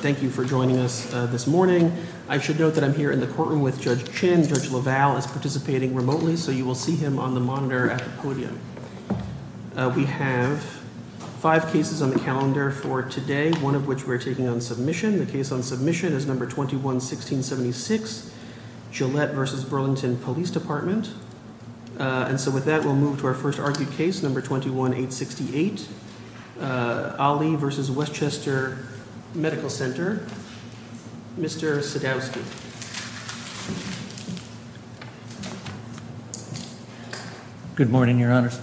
Thank you for joining us this morning. I should note that I'm here in the courtroom with Judge Chin. Judge LaValle is participating remotely, so you will see him on the monitor at the podium. We have five cases on the calendar for today, one of which we're taking on submission. The case on submission is number 21-1676, Gillette v. Burlington Police Department. And so with that, we'll move to our first argued case, number 21-868, Ali v. Westchester Medical Center. Mr. Sadowski. Robert Sadowski Good morning, Your Honors.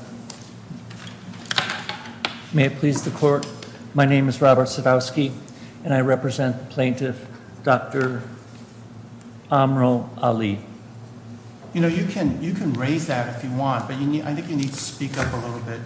May it please the Court, my name is Robert Sadowski, and I represent Plaintiff Dr. Amrul Ali. You know, you can raise that if you want, but I think you need to speak up a little bit.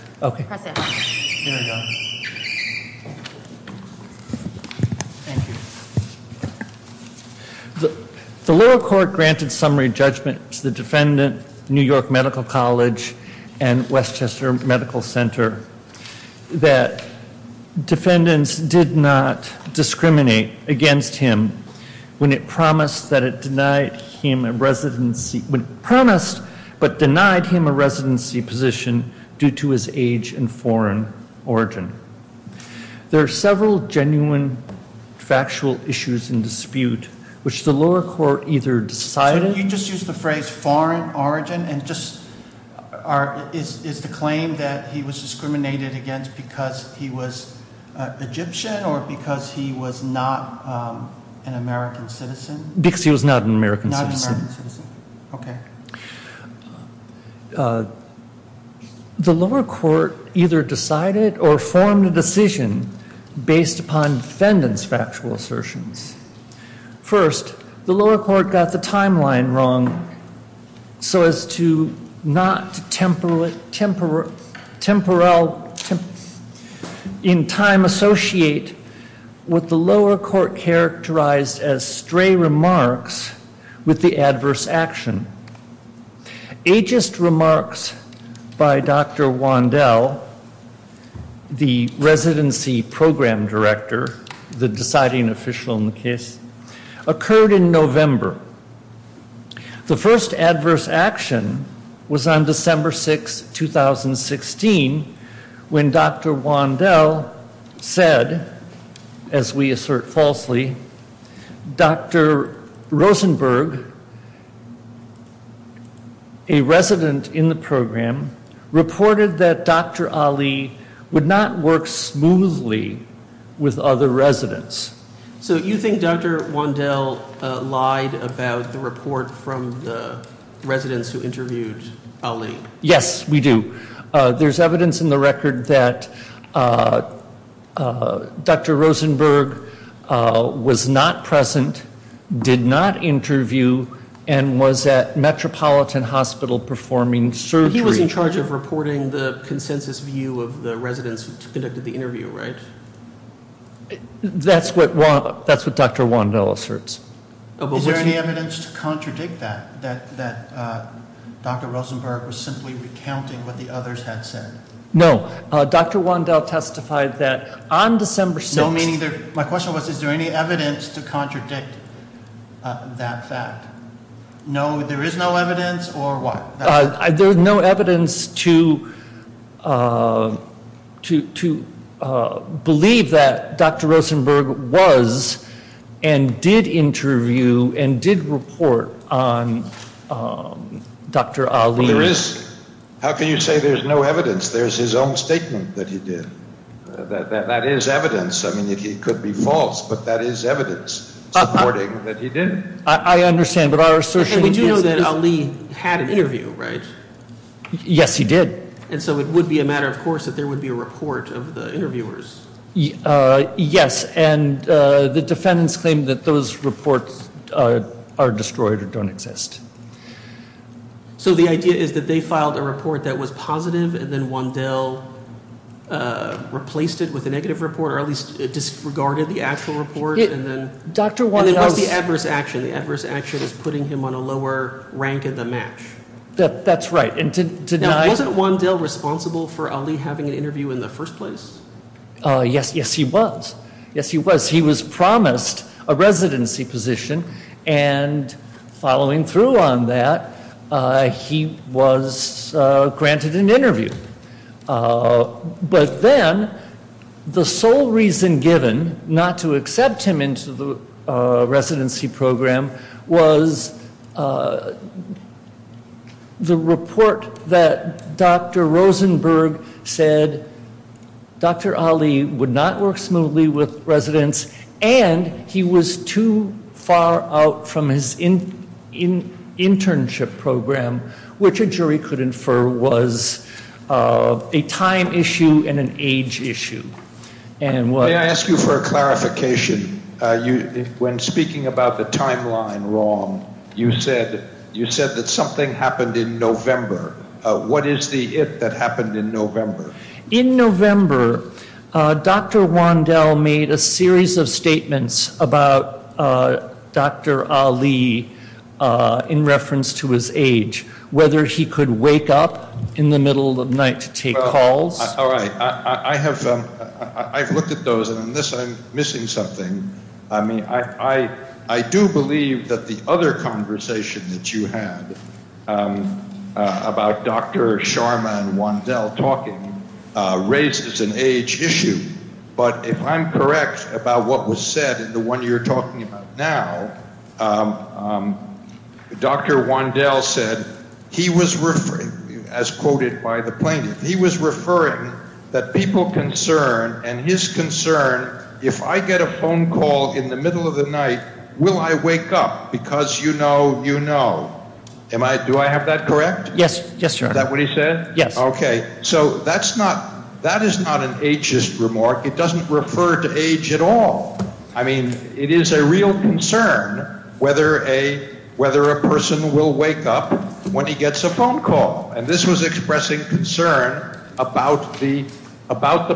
The lower court granted summary judgment to the defendant, New York Medical College, and Westchester Medical Center, that defendants did not discriminate against him when it promised but denied him a residency position due to his age and foreign origin. There are several genuine factual issues in dispute, which the lower court either decided... Robert Sadowski So you just used the phrase foreign origin, and just is the claim that he was discriminated against because he was Egyptian or because he was not an American citizen? Robert Sadowski Because he was not an American citizen. Robert Sadowski Not an American citizen, okay. The lower court either decided or formed a decision based upon defendant's factual assertions. First, the lower court got the timeline wrong so as to not temporarily in time associate what the lower court characterized as stray remarks with the adverse action. Ageist remarks by Dr. Wandel, the residency program director, the deciding official in the case, occurred in November. The first adverse action was on December 6, 2016, when Dr. Wandel said, as we assert falsely, Dr. Rosenberg, a resident in the program, reported that Dr. Ali would not work smoothly with other residents. Robert Sadowski So you think Dr. Wandel lied about the report from the residents who interviewed Ali? Robert Sadowski Yes, we do. There's evidence in the record that Dr. Rosenberg was not present, did not interview, and was at Metropolitan Hospital performing surgery. Robert Sadowski He was in charge of reporting the consensus view of the residents who conducted the interview, right? Robert Sadowski That's what Dr. Wandel asserts. Robert Sadowski Is there any evidence to contradict that, that Dr. Rosenberg was simply recounting what the others had said? Robert Sadowski No. Dr. Wandel testified that on December 6... Robert Sadowski My question was, is there any evidence to contradict that fact? No, there is no evidence, or what? Robert Sadowski To believe that Dr. Rosenberg was, and did interview, and did report on Dr. Ali... Robert Sadowski There is. How can you say there's no evidence? There's his own statement that he did. That is evidence. I mean, it could be false, but that is evidence supporting that he did. Robert Sadowski I understand, but our assertion... Robert Sadowski Yes, he did. Robert Sadowski And so it would be a matter, of course, that there would be a report of the interviewers. Robert Sadowski Yes, and the defendants claim that those reports are destroyed or don't exist. Robert Sadowski So the idea is that they filed a report that was positive, and then Wandel replaced it with a negative report, or at least disregarded the actual report, and then... Robert Sadowski And then what's the adverse action? The adverse action is putting him on a lower rank in the match. Robert Sadowski That's right, and to deny... Robert Sadowski Now, wasn't Wandel responsible for Ali having an interview in the first place? Robert Sadowski Yes, yes, he was. Yes, he was. He was promised a residency position, and following through on that, he was granted an interview. Robert Sadowski But then the sole reason given not to accept him into the residency program was the report that Dr. Rosenberg said Dr. Ali would not work smoothly with residents, Robert Sadowski and he was too far out from his internship program, which a jury could infer was a time issue and an age issue. Robert Sadowski May I ask you for a clarification? When speaking about the timeline wrong, you said that something happened in November. What is the it that happened in November? Robert Sadowski In November, Dr. Wandel made a series of statements about Dr. Ali in reference to his age, whether he could wake up in the middle of the night to take calls. Robert Sadowski I have looked at those, and in this I'm missing something. I do believe that the other conversation that you had about Dr. Sharma and Wandel talking raises an age issue, but if I'm correct about what was said in the one you're talking about now, Robert Sadowski Dr. Wandel said, as quoted by the plaintiff, he was referring that people concerned and his concern, if I get a phone call in the middle of the night, will I wake up? Because you know, you know. Do I have that correct? Robert Sadowski Is that what he said? Okay. So that is not an ageist remark. It doesn't refer to age at all. I mean, it is a real concern whether a person will wake up when he gets a phone call. And this was expressing concern about the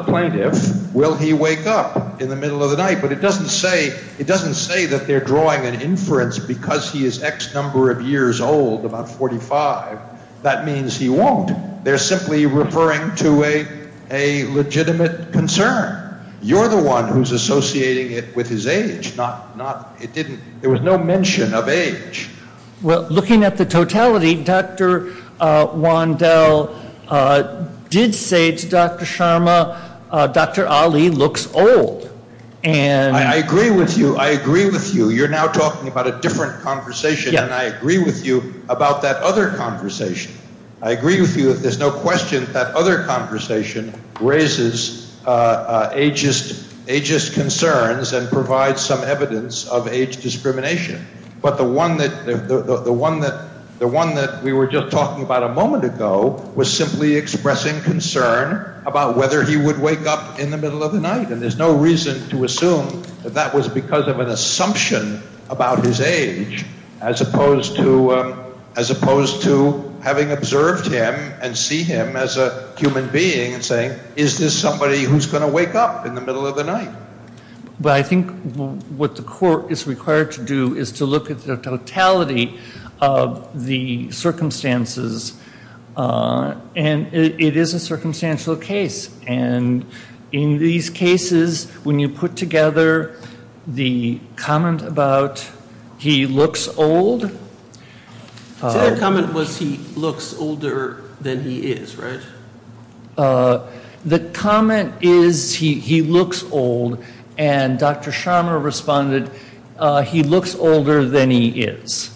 plaintiff. Will he wake up in the middle of the night? But it doesn't say, it doesn't say that they're drawing an inference because he is X number of years old, about 45. That means he won't. They're simply referring to a legitimate concern. You're the one who's associating it with his age, not, it didn't, there was no mention of age. Well, looking at the totality, Dr. Wandel did say to Dr. Sharma, Dr. Ali looks old. I agree with you. I agree with you. You're now talking about a different conversation. And I agree with you about that other conversation. I agree with you that there's no question that other conversation raises ageist concerns and provides some evidence of age discrimination. But the one that we were just talking about a moment ago was simply expressing concern about whether he would wake up in the middle of the night. And there's no reason to assume that that was because of an assumption about his age as opposed to having observed him and see him as a human being and saying, is this somebody who's going to wake up in the middle of the night? But I think what the court is required to do is to look at the totality of the circumstances. And it is a circumstantial case. And in these cases, when you put together the comment about he looks old. The comment was he looks older than he is, right? The comment is he looks old. And Dr. Sharma responded, he looks older than he is.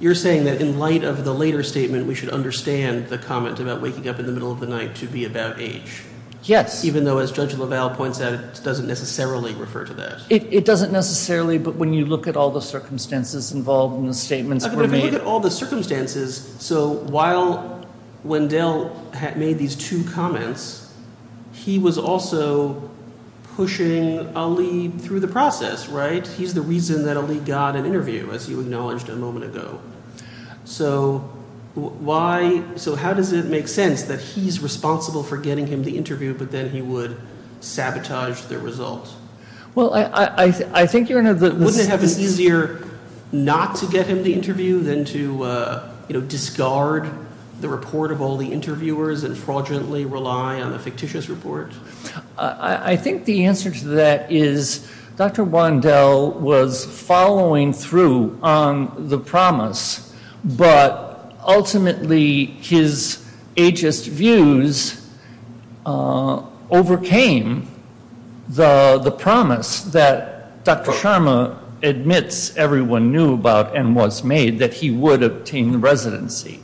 You're saying that in light of the later statement, we should understand the comment about waking up in the middle of the night to be about age. Yes. Even though as Judge Lavelle points out, it doesn't necessarily refer to that. It doesn't necessarily. But when you look at all the circumstances involved in the statements, all the circumstances. So while Wendell had made these two comments, he was also pushing Ali through the process, right? He's the reason that Ali got an interview, as you acknowledged a moment ago. So why? So how does it make sense that he's responsible for getting him the interview, but then he would sabotage the results? Well, I think you're going to have this easier not to get him the interview than to discard the report of all the interviewers and fraudulently rely on the fictitious report. I think the answer to that is Dr. Wendell was following through on the promise, but ultimately his ageist views overcame the promise that Dr. Sharma admits everyone knew about and was made that he would obtain the residency.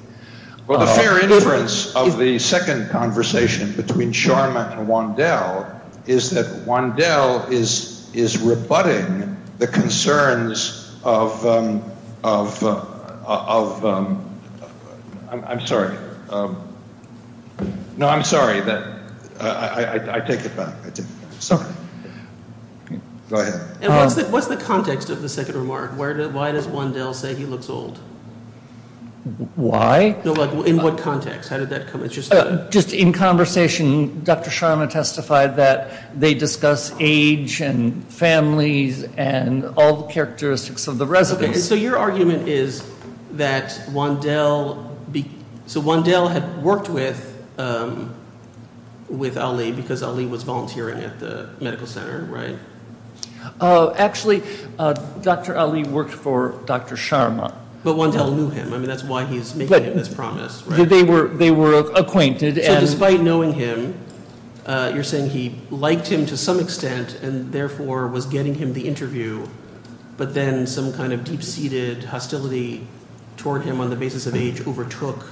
Well, the fair inference of the second conversation between Sharma and Wendell is that Wendell is rebutting the concerns of – I'm sorry. No, I'm sorry. I take it back. Sorry. Go ahead. And what's the context of the second remark? Why does Wendell say he looks old? Why? In what context? How did that come – Just in conversation, Dr. Sharma testified that they discuss age and families and all the characteristics of the residents. So your argument is that Wendell – so Wendell had worked with Ali because Ali was volunteering at the medical center, right? Actually, Dr. Ali worked for Dr. Sharma. But Wendell knew him. I mean, that's why he's making this promise, right? They were acquainted and – So despite knowing him, you're saying he liked him to some extent and therefore was getting him the interview, but then some kind of deep-seated hostility toward him on the basis of age overtook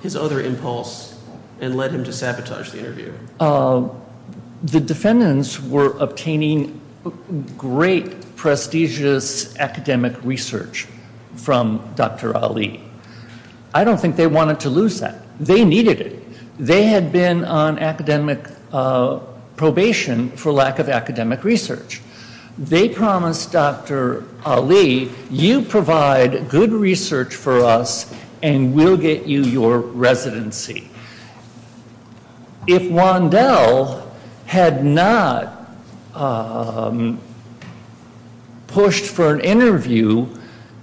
his other impulse and led him to sabotage the interview. The defendants were obtaining great, prestigious academic research from Dr. Ali. I don't think they wanted to lose that. They needed it. They had been on academic probation for lack of academic research. They promised Dr. Ali, you provide good research for us and we'll get you your residency. If Wendell had not pushed for an interview,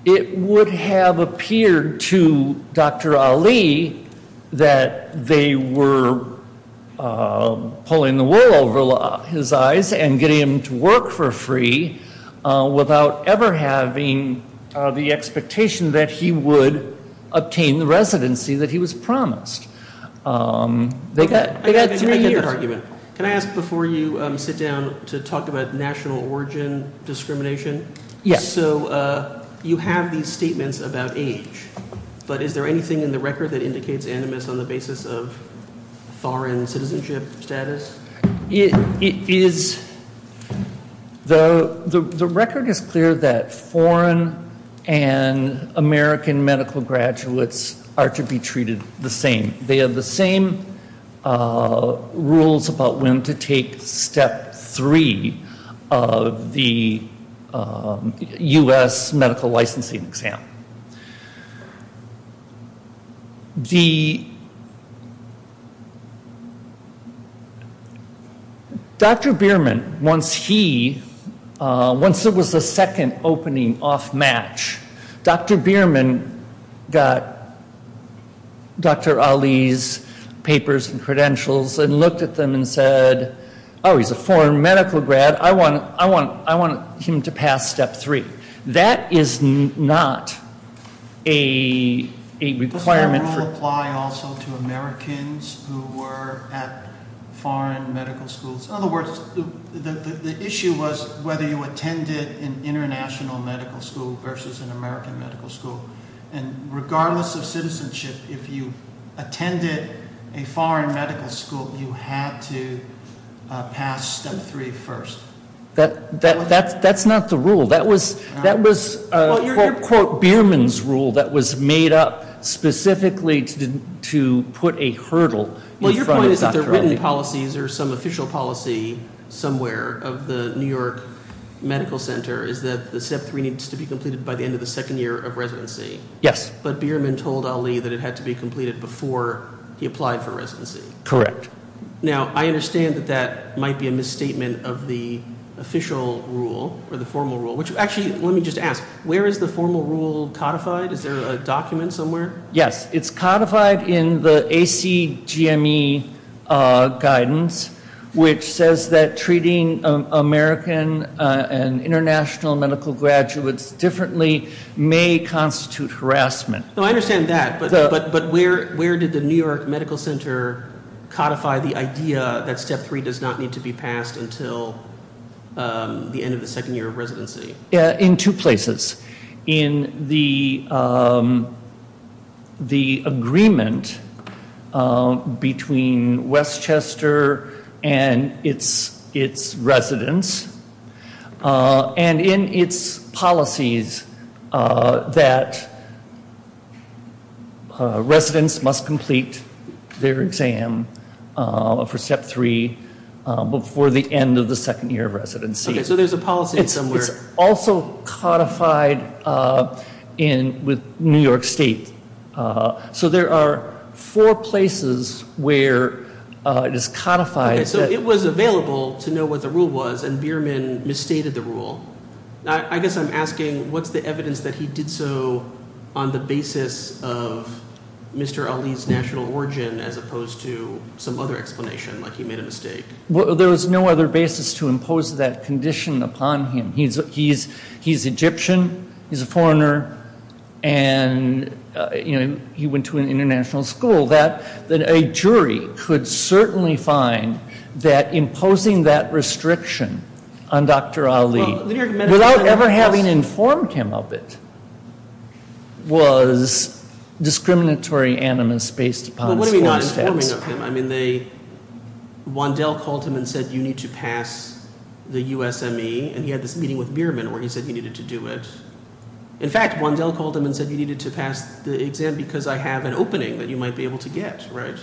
it would have appeared to Dr. Ali that they were pulling the wool over his eyes and getting him to work for free without ever having the expectation that he would obtain the residency that he was promised. They got three years. Can I ask before you sit down to talk about national origin discrimination? Yes. So you have these statements about age, but is there anything in the record that indicates animus on the basis of foreign citizenship status? The record is clear that foreign and American medical graduates are to be treated the same. They have the same rules about when to take step three of the U.S. medical licensing exam. Dr. Bierman, once he, once it was the second opening off match, Dr. Bierman got Dr. Ali's papers and credentials and looked at them and said, oh, he's a foreign medical grad. I want him to pass step three. That is not a requirement. Does that rule apply also to Americans who were at foreign medical schools? In other words, the issue was whether you attended an international medical school versus an American medical school. And regardless of citizenship, if you attended a foreign medical school, you had to pass step three first. That's not the rule. That was, quote, Bierman's rule that was made up specifically to put a hurdle in front of Dr. Ali. Well, your point is that there are written policies or some official policy somewhere of the New York Medical Center is that the step three needs to be completed by the end of the second year of residency. Yes. But Bierman told Ali that it had to be completed before he applied for residency. Correct. Now, I understand that that might be a misstatement of the official rule or the formal rule, which actually, let me just ask, where is the formal rule codified? Is there a document somewhere? Yes, it's codified in the ACGME guidance, which says that treating American and international medical graduates differently may constitute harassment. I understand that, but where did the New York Medical Center codify the idea that step three does not need to be passed until the end of the second year of residency? In two places. In the agreement between Westchester and its residents, and in its policies that residents must complete their exam for step three before the end of the second year of residency. Okay, so there's a policy somewhere. It's also codified with New York State. So there are four places where it is codified. Okay, so it was available to know what the rule was, and Bierman misstated the rule. I guess I'm asking, what's the evidence that he did so on the basis of Mr. Ali's national origin as opposed to some other explanation, like he made a mistake? There was no other basis to impose that condition upon him. He's Egyptian, he's a foreigner, and he went to an international school. A jury could certainly find that imposing that restriction on Dr. Ali without ever having informed him of it was discriminatory animus based upon school status. I mean, Wandel called him and said you need to pass the USME, and he had this meeting with Bierman where he said he needed to do it. In fact, Wandel called him and said you needed to pass the exam because I have an opening that you might be able to get, right?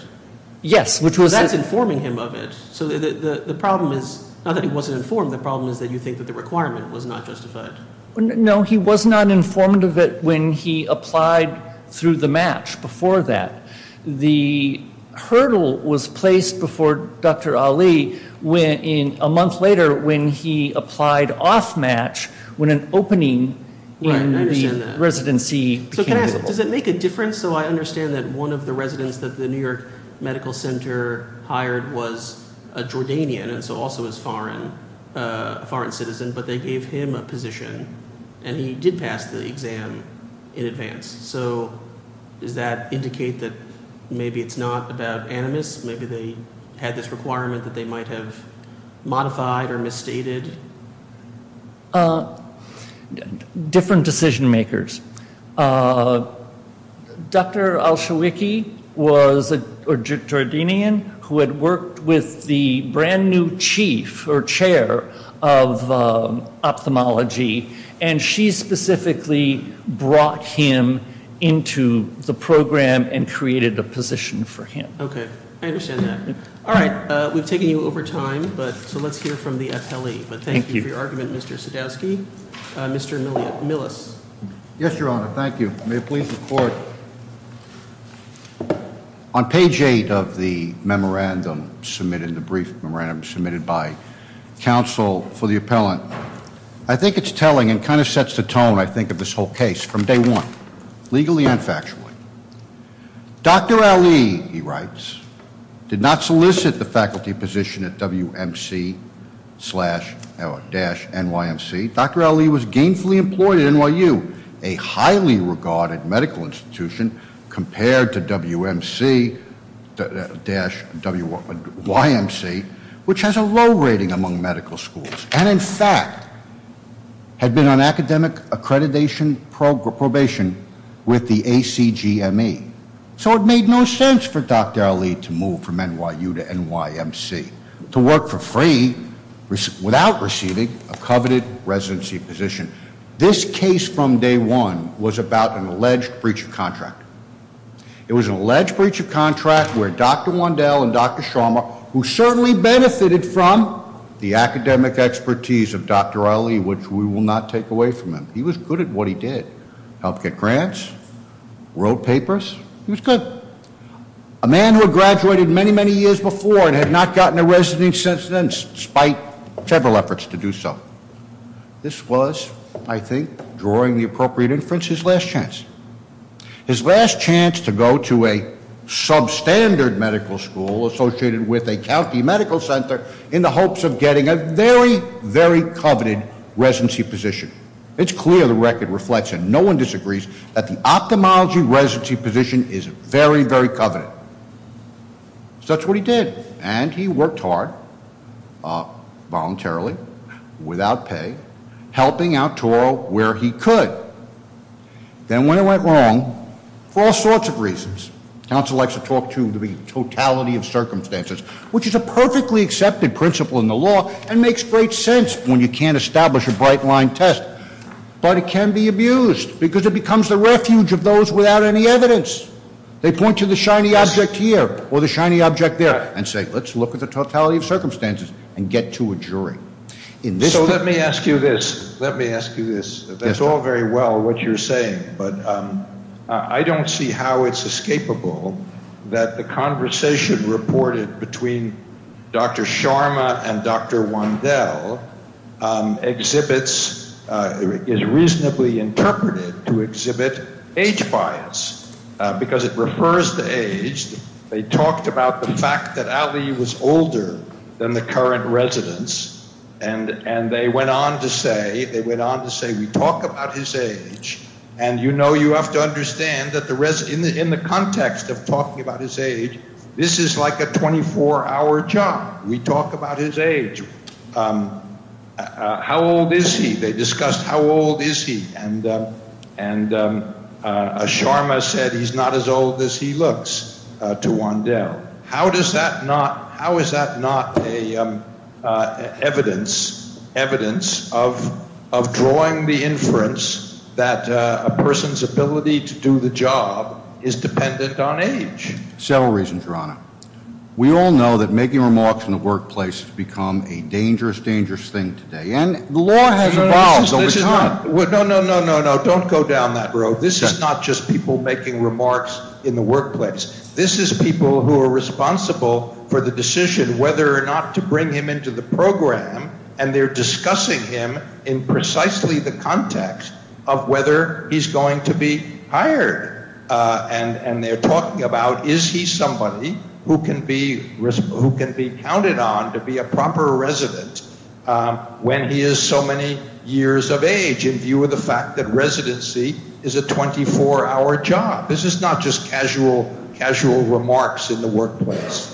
Yes. That's informing him of it. So the problem is not that he wasn't informed. The problem is that you think that the requirement was not justified. No, he was not informed of it when he applied through the match before that. The hurdle was placed before Dr. Ali a month later when he applied off match when an opening in the residency became available. Right, I understand that. So can I ask, does it make a difference? So I understand that one of the residents that the New York Medical Center hired was a Jordanian and so also a foreign citizen, but they gave him a position, and he did pass the exam in advance. So does that indicate that maybe it's not about animus? Maybe they had this requirement that they might have modified or misstated? Different decision makers. Dr. Al-Shawiki was a Jordanian who had worked with the brand new chief or chair of ophthalmology, and she specifically brought him into the program and created a position for him. Okay, I understand that. All right, we've taken you over time, so let's hear from the FLE. Thank you. But thank you for your argument, Mr. Sadowski. Mr. Millis. Yes, Your Honor. Thank you. May it please the court. On page eight of the memorandum submitted, the brief memorandum submitted by counsel for the appellant, I think it's telling and kind of sets the tone, I think, of this whole case from day one, legally and factually. Dr. Ali, he writes, did not solicit the faculty position at WMC-NYMC. Dr. Ali was gainfully employed at NYU, a highly regarded medical institution compared to WMC-WYMC, which has a low rating among medical schools. And in fact, had been on academic accreditation probation with the ACGME. So it made no sense for Dr. Ali to move from NYU to NYMC to work for free without receiving a coveted residency position. This case from day one was about an alleged breach of contract. It was an alleged breach of contract where Dr. Wandel and Dr. Sharma, who certainly benefited from the academic expertise of Dr. Ali, which we will not take away from him. He was good at what he did. Helped get grants, wrote papers. He was good. A man who had graduated many, many years before and had not gotten a residency since then, despite several efforts to do so. This was, I think, drawing the appropriate inference, his last chance. His last chance to go to a substandard medical school associated with a county medical center in the hopes of getting a very, very coveted residency position. It's clear the record reflects it. No one disagrees that the ophthalmology residency position is very, very coveted. So that's what he did. And he worked hard, voluntarily, without pay, helping out Toro where he could. Then when it went wrong, for all sorts of reasons, council likes to talk to the totality of circumstances, which is a perfectly accepted principle in the law and makes great sense when you can't establish a bright line test. But it can be abused because it becomes the refuge of those without any evidence. They point to the shiny object here or the shiny object there and say, let's look at the totality of circumstances and get to a jury. So let me ask you this. Let me ask you this. That's all very well what you're saying, but I don't see how it's escapable that the conversation reported between Dr. Sharma and Dr. Wandel exhibits is reasonably interpreted to exhibit age bias because it refers to age. They talked about the fact that Ali was older than the current residents. And and they went on to say they went on to say, we talk about his age. And, you know, you have to understand that the rest in the in the context of talking about his age, this is like a 24 hour job. We talk about his age. How old is he? They discussed how old is he? And and Sharma said he's not as old as he looks to Wandel. How does that not how is that not a evidence, evidence of of drawing the inference that a person's ability to do the job is dependent on age? Several reasons, Your Honor. We all know that making remarks in the workplace has become a dangerous, dangerous thing today. No, no, no, no, no. Don't go down that road. This is not just people making remarks in the workplace. This is people who are responsible for the decision whether or not to bring him into the program. And they're discussing him in precisely the context of whether he's going to be hired. And they're talking about is he somebody who can be who can be counted on to be a proper resident when he is so many years of age in view of the fact that residency is a 24 hour job. This is not just casual, casual remarks in the workplace.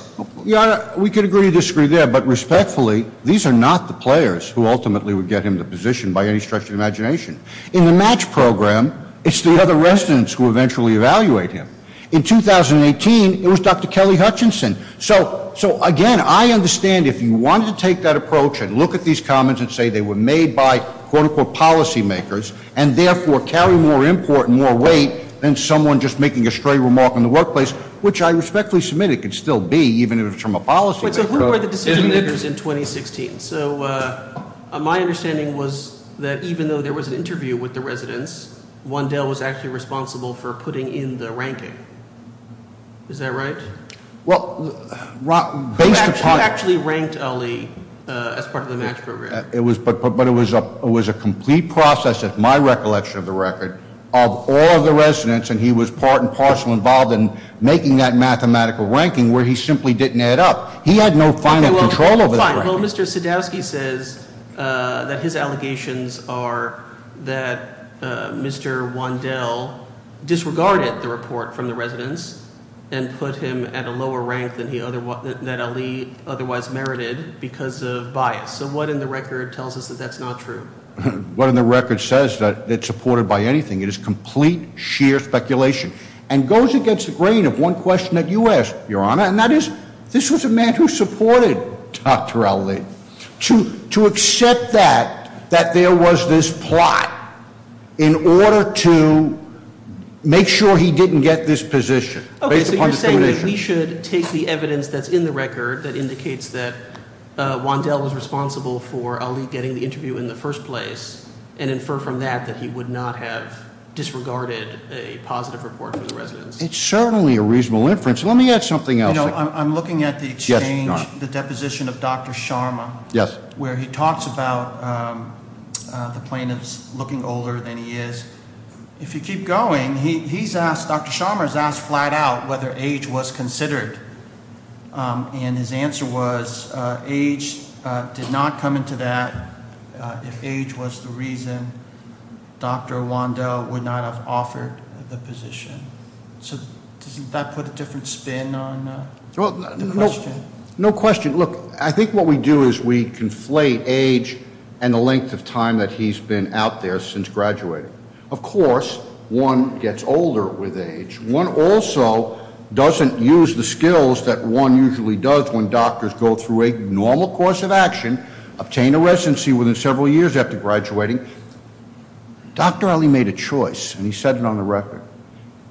We could agree to disagree there. But respectfully, these are not the players who ultimately would get him the position by any stretch of imagination in the match program. It's the other residents who eventually evaluate him. In 2018, it was Dr. Kelly Hutchinson. So, so again, I understand if you want to take that approach and look at these comments and say they were made by quote unquote policy makers and therefore carry more import and more weight than someone just making a stray remark in the workplace, which I respectfully submit it could still be even if it's from a policy. So who were the decision makers in 2016? So my understanding was that even though there was an interview with the residents, one deal was actually responsible for putting in the ranking. Is that right? Well, based upon actually ranked Ali as part of the match program, it was put, but it was up. It was a complete process. My recollection of the record of all of the residents, and he was part and parcel involved in making that mathematical ranking where he simply didn't add up. He had no final control over. Well, Mr. Sadowski says that his allegations are that Mr. Wandel disregarded the report from the residents and put him at a lower rank than he otherwise otherwise merited because of bias. So what in the record tells us that that's not true? What in the record says that it's supported by anything? It is complete, sheer speculation and goes against the grain of one question that you asked, Your Honor, and that is, this was a man who supported Dr. Ali to accept that, that there was this plot in order to make sure he didn't get this position. We should take the evidence that's in the record that indicates that Wandel is responsible for getting the interview in the first place and infer from that that he would not have disregarded a positive report for the residents. It's certainly a reasonable inference. Let me add something else. I'm looking at the exchange, the deposition of Dr. Sharma. Yes. Where he talks about the plaintiffs looking older than he is. If you keep going, he's asked, Dr. Sharma's asked flat out whether age was considered. And his answer was age did not come into that if age was the reason Dr. Wandel would not have offered the position. So doesn't that put a different spin on the question? No question. Look, I think what we do is we conflate age and the length of time that he's been out there since graduating. Of course, one gets older with age. One also doesn't use the skills that one usually does when doctors go through a normal course of action, obtain a residency within several years after graduating. Dr. Ali made a choice, and he said it on the record.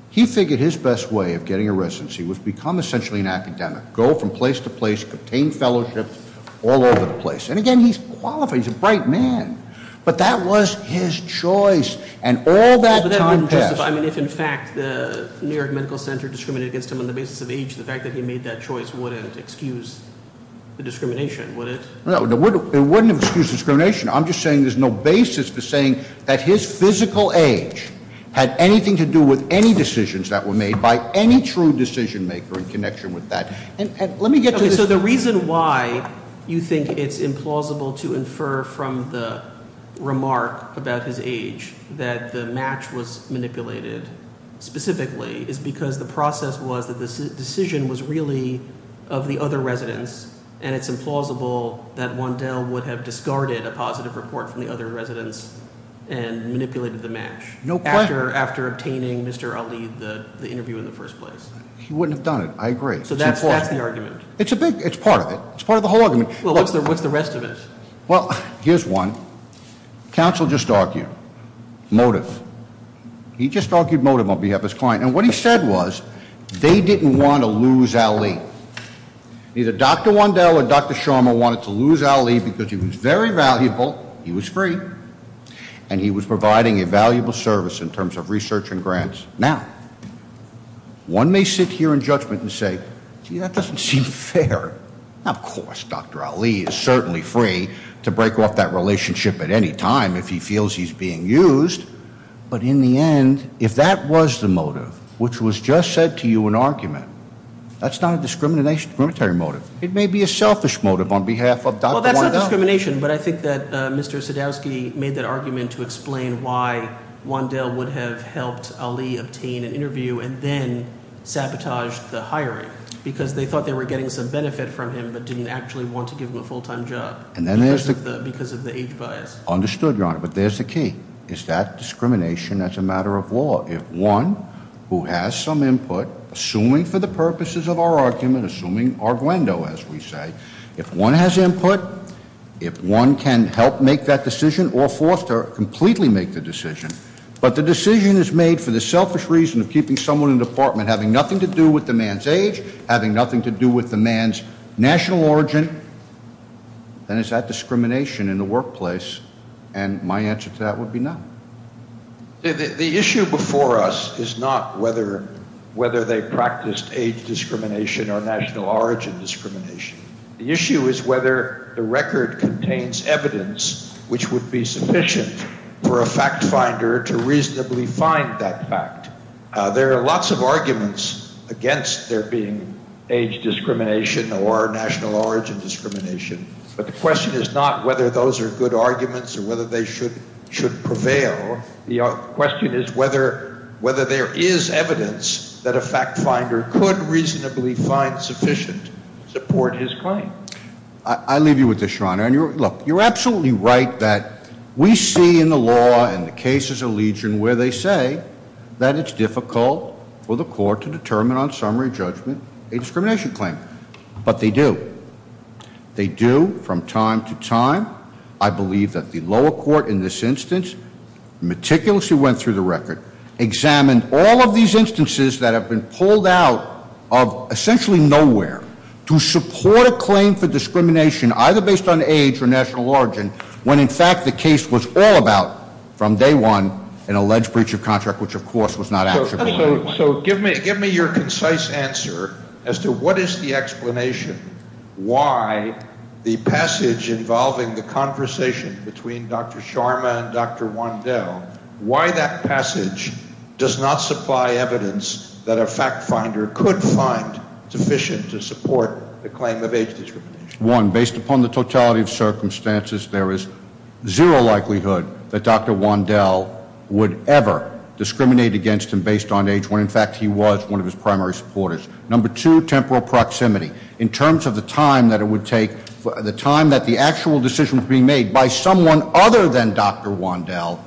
He figured his best way of getting a residency was to become essentially an academic, go from place to place, obtain fellowships all over the place. And again, he's qualified, he's a bright man. But that was his choice. And all that time passed. I mean, if in fact the New York Medical Center discriminated against him on the basis of age, the fact that he made that choice wouldn't excuse the discrimination, would it? No, it wouldn't have excused discrimination. I'm just saying there's no basis for saying that his physical age had anything to do with any decisions that were made by any true decision maker in connection with that. And let me get to the- Okay, so the reason why you think it's implausible to infer from the remark about his age that the match was manipulated specifically is because the process was that the decision was really of the other residents. And it's implausible that Wandel would have discarded a positive report from the other residents and manipulated the match. No question. After obtaining Mr. Ali, the interview in the first place. He wouldn't have done it. I agree. So that's the argument. It's part of it. It's part of the whole argument. Well, what's the rest of it? Well, here's one. Counsel just argued motive. He just argued motive on behalf of his client. And what he said was they didn't want to lose Ali. Either Dr. Wandel or Dr. Sharma wanted to lose Ali because he was very valuable, he was free, and he was providing a valuable service in terms of research and grants. Now, one may sit here in judgment and say, gee, that doesn't seem fair. Of course, Dr. Ali is certainly free to break off that relationship at any time if he feels he's being used. But in the end, if that was the motive, which was just said to you in argument, that's not a discriminatory motive. It may be a selfish motive on behalf of Dr. Wandel. Well, that's not discrimination, but I think that Mr. Sadowski made that argument to explain why Wandel would have helped Ali obtain an interview and then sabotaged the hiring because they thought they were getting some benefit from him but didn't actually want to give him a full-time job because of the age bias. Understood, Your Honor, but there's the key. Is that discrimination as a matter of law? If one who has some input, assuming for the purposes of our argument, assuming our guendo, as we say, if one has input, if one can help make that decision or force to completely make the decision, but the decision is made for the selfish reason of keeping someone in the department having nothing to do with the man's age, having nothing to do with the man's national origin, then is that discrimination in the workplace? And my answer to that would be no. The issue before us is not whether they practiced age discrimination or national origin discrimination. The issue is whether the record contains evidence which would be sufficient for a fact finder to reasonably find that fact. There are lots of arguments against there being age discrimination or national origin discrimination, but the question is not whether those are good arguments or whether they should prevail. The question is whether there is evidence that a fact finder could reasonably find sufficient to support his claim. I leave you with this, Your Honor. And look, you're absolutely right that we see in the law and the cases of Legion where they say that it's difficult for the court to determine on summary judgment a discrimination claim. But they do. They do from time to time. I believe that the lower court in this instance meticulously went through the record, examined all of these instances that have been pulled out of essentially nowhere to support a claim for discrimination either based on age or national origin when in fact the case was all about from day one an alleged breach of contract, which of course was not actionable. So give me your concise answer as to what is the explanation why the passage involving the conversation between Dr. Sharma and Dr. Wandel, why that passage does not supply evidence that a fact finder could find sufficient to support the claim of age discrimination. One, based upon the totality of circumstances, there is zero likelihood that Dr. Wandel would ever discriminate against him based on age when in fact he was one of his primary supporters. Number two, temporal proximity. In terms of the time that it would take, the time that the actual decision was being made by someone other than Dr. Wandel,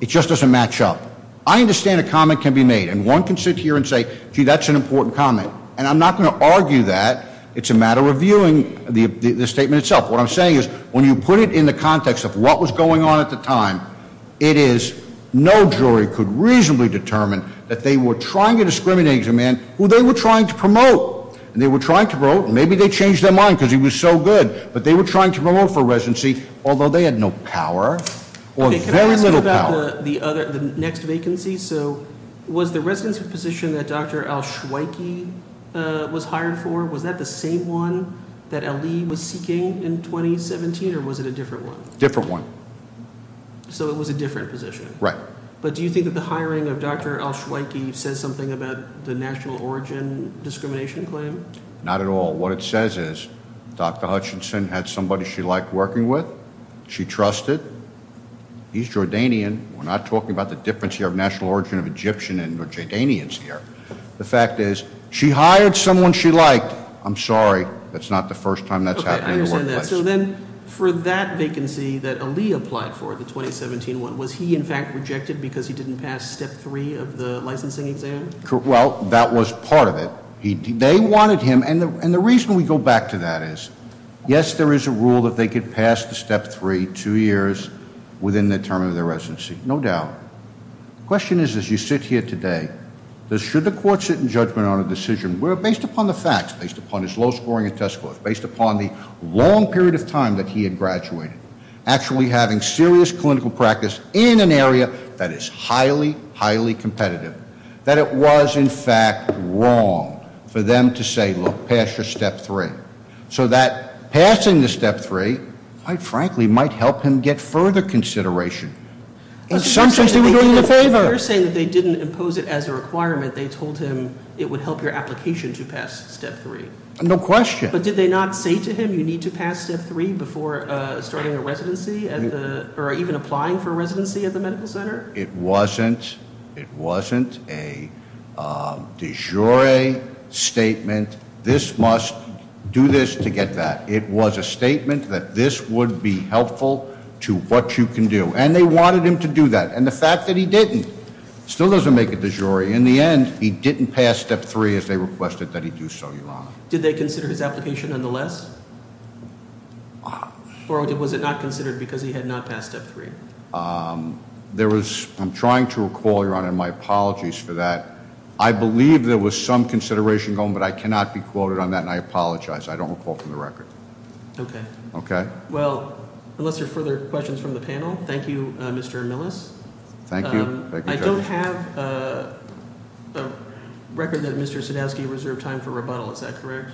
it just doesn't match up. I understand a comment can be made and one can sit here and say, gee, that's an important comment. And I'm not going to argue that. It's a matter of viewing the statement itself. What I'm saying is when you put it in the context of what was going on at the time, it is no jury could reasonably determine that they were trying to discriminate against a man who they were trying to promote. And they were trying to promote. Maybe they changed their mind because he was so good. But they were trying to promote for residency, although they had no power or very little power. Okay, can I ask you about the next vacancy? So was the residency position that Dr. Al-Shuaiki was hired for, was that the same one that Ali was seeking in 2017 or was it a different one? Different one. So it was a different position? Right. But do you think that the hiring of Dr. Al-Shuaiki says something about the national origin discrimination claim? Not at all. What it says is Dr. Hutchinson had somebody she liked working with. She trusted. He's Jordanian. We're not talking about the difference here of national origin of Egyptian and Jordanians here. The fact is she hired someone she liked. I'm sorry. That's not the first time that's happened in the workplace. Okay, I understand that. So then for that vacancy that Ali applied for, the 2017 one, was he, in fact, rejected because he didn't pass step three of the licensing exam? Well, that was part of it. They wanted him, and the reason we go back to that is, yes, there is a rule that they could pass the step three two years within the term of their residency, no doubt. The question is, as you sit here today, should the court sit in judgment on a decision based upon the facts, based upon his low scoring in test scores, based upon the long period of time that he had graduated, actually having serious clinical practice in an area that is highly, highly competitive, that it was, in fact, wrong for them to say, look, pass your step three, so that passing the step three, quite frankly, might help him get further consideration. In some sense, they were doing him a favor. You're saying that they didn't impose it as a requirement. They told him it would help your application to pass step three. No question. But did they not say to him you need to pass step three before starting a residency or even applying for a residency at the medical center? It wasn't a de jure statement. This must do this to get that. It was a statement that this would be helpful to what you can do, and they wanted him to do that. And the fact that he didn't still doesn't make it de jure. In the end, he didn't pass step three as they requested that he do so, Your Honor. Did they consider his application nonetheless? Or was it not considered because he had not passed step three? I'm trying to recall, Your Honor, my apologies for that. I believe there was some consideration going, but I cannot be quoted on that, and I apologize. I don't recall from the record. Okay. Okay? Well, unless there are further questions from the panel, thank you, Mr. Millis. Thank you. I don't have a record that Mr. Sadowski reserved time for rebuttal. Is that correct?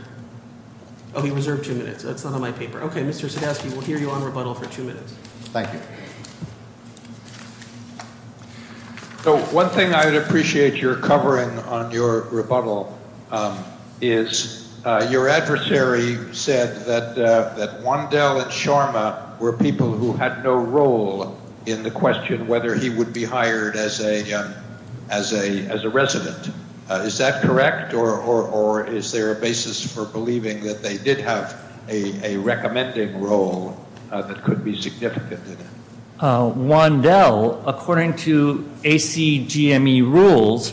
Oh, he reserved two minutes. That's not on my paper. Okay, Mr. Sadowski, we'll hear you on rebuttal for two minutes. Thank you. So one thing I would appreciate your covering on your rebuttal is your adversary said that Wandel and Sharma were people who had no role in the question whether he would be hired as a resident. Is that correct? Or is there a basis for believing that they did have a recommending role that could be significant? Wandel, according to ACGME rules,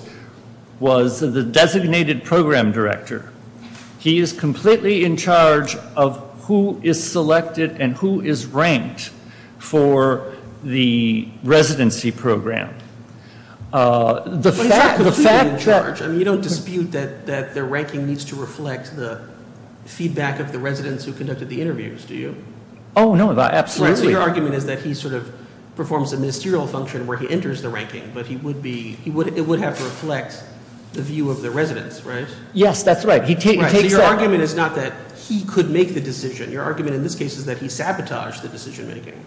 was the designated program director. He is completely in charge of who is selected and who is ranked for the residency program. But he's completely in charge. I mean, you don't dispute that their ranking needs to reflect the feedback of the residents who conducted the interviews, do you? Oh, no, absolutely. So your argument is that he sort of performs a ministerial function where he enters the ranking, but it would have to reflect the view of the residents, right? Yes, that's right. So your argument is not that he could make the decision. Your argument in this case is that he sabotaged the decision making.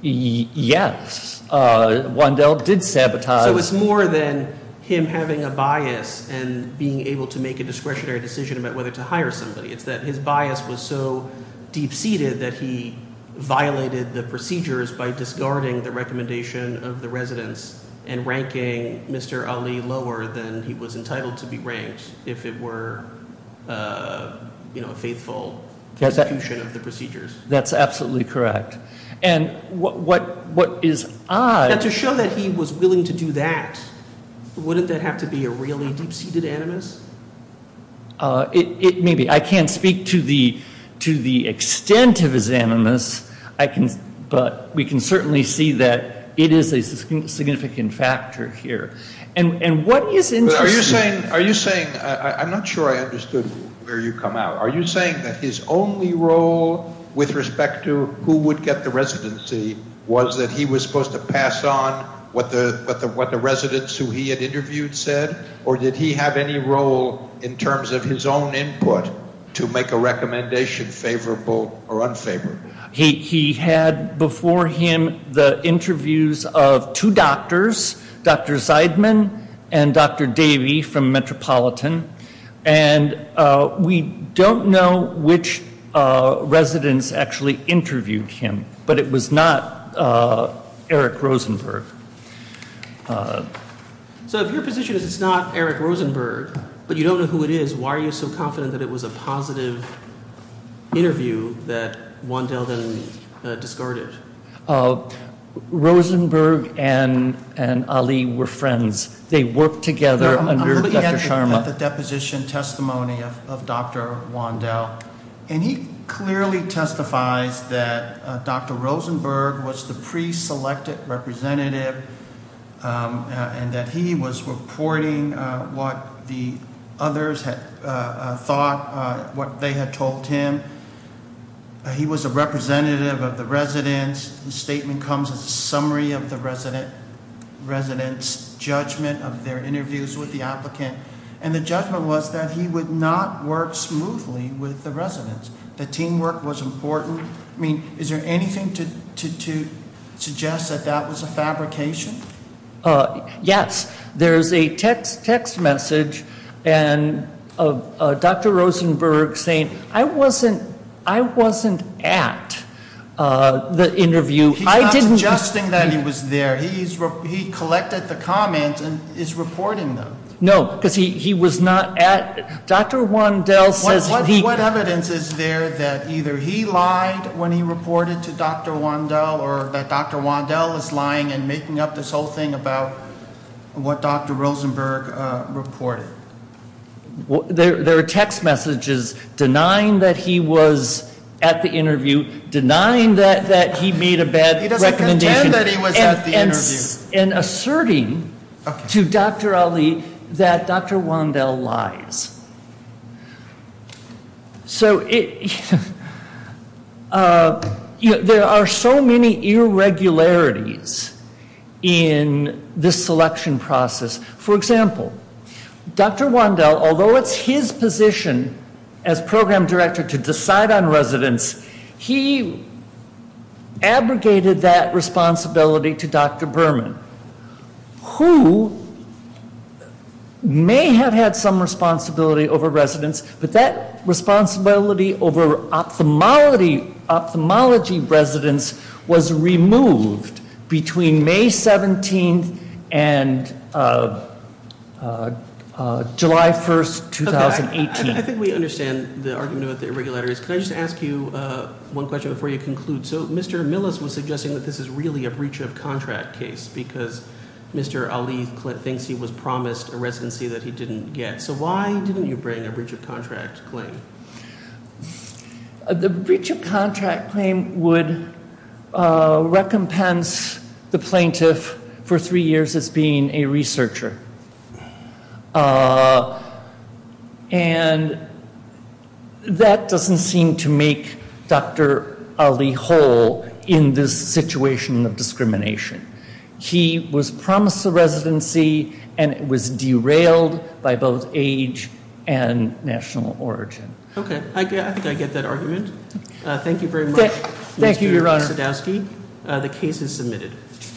Yes, Wandel did sabotage. So it's more than him having a bias and being able to make a discretionary decision about whether to hire somebody. It's that his bias was so deep-seated that he violated the procedures by discarding the recommendation of the residents and ranking Mr. Ali lower than he was entitled to be ranked if it were, you know, a faithful execution of the procedures. That's absolutely correct. And what is odd— Now, to show that he was willing to do that, wouldn't that have to be a really deep-seated animus? Maybe. I can't speak to the extent of his animus, but we can certainly see that it is a significant factor here. And what is interesting— Are you saying—I'm not sure I understood where you come out. Are you saying that his only role with respect to who would get the residency was that he was supposed to pass on what the residents who he had interviewed said, or did he have any role in terms of his own input to make a recommendation favorable or unfavorable? He had before him the interviews of two doctors, Dr. Zeidman and Dr. Davey from Metropolitan. And we don't know which residents actually interviewed him, but it was not Eric Rosenberg. So if your position is it's not Eric Rosenberg, but you don't know who it is, why are you so confident that it was a positive interview that Wandel then discarded? Rosenberg and Ali were friends. They worked together under Dr. Sharma. He had the deposition testimony of Dr. Wandel, and he clearly testifies that Dr. Rosenberg was the preselected representative and that he was reporting what the others had thought, what they had told him. He was a representative of the residents. The statement comes as a summary of the residents' judgment of their interviews with the applicant. And the judgment was that he would not work smoothly with the residents. The teamwork was important. I mean, is there anything to suggest that that was a fabrication? Yes. There's a text message of Dr. Rosenberg saying, I wasn't at the interview. He's not suggesting that he was there. He collected the comments and is reporting them. No, because he was not at. What evidence is there that either he lied when he reported to Dr. Wandel or that Dr. Wandel is lying and making up this whole thing about what Dr. Rosenberg reported? There are text messages denying that he was at the interview, denying that he made a bad recommendation. He doesn't contend that he was at the interview. And asserting to Dr. Ali that Dr. Wandel lies. There are so many irregularities in this selection process. For example, Dr. Wandel, although it's his position as program director to decide on residents, he abrogated that responsibility to Dr. Berman, who may have had some responsibility over residents. But that responsibility over ophthalmology residents was removed between May 17th and July 1st, 2018. I think we understand the argument about the irregularities. Can I just ask you one question before you conclude? So Mr. Millis was suggesting that this is really a breach of contract case because Mr. Ali thinks he was promised a residency that he didn't get. So why didn't you bring a breach of contract claim? The breach of contract claim would recompense the plaintiff for three years as being a researcher. And that doesn't seem to make Dr. Ali whole in this situation of discrimination. He was promised a residency and it was derailed by both age and national origin. Okay. I think I get that argument. Thank you very much. Thank you, Your Honor. The case is submitted.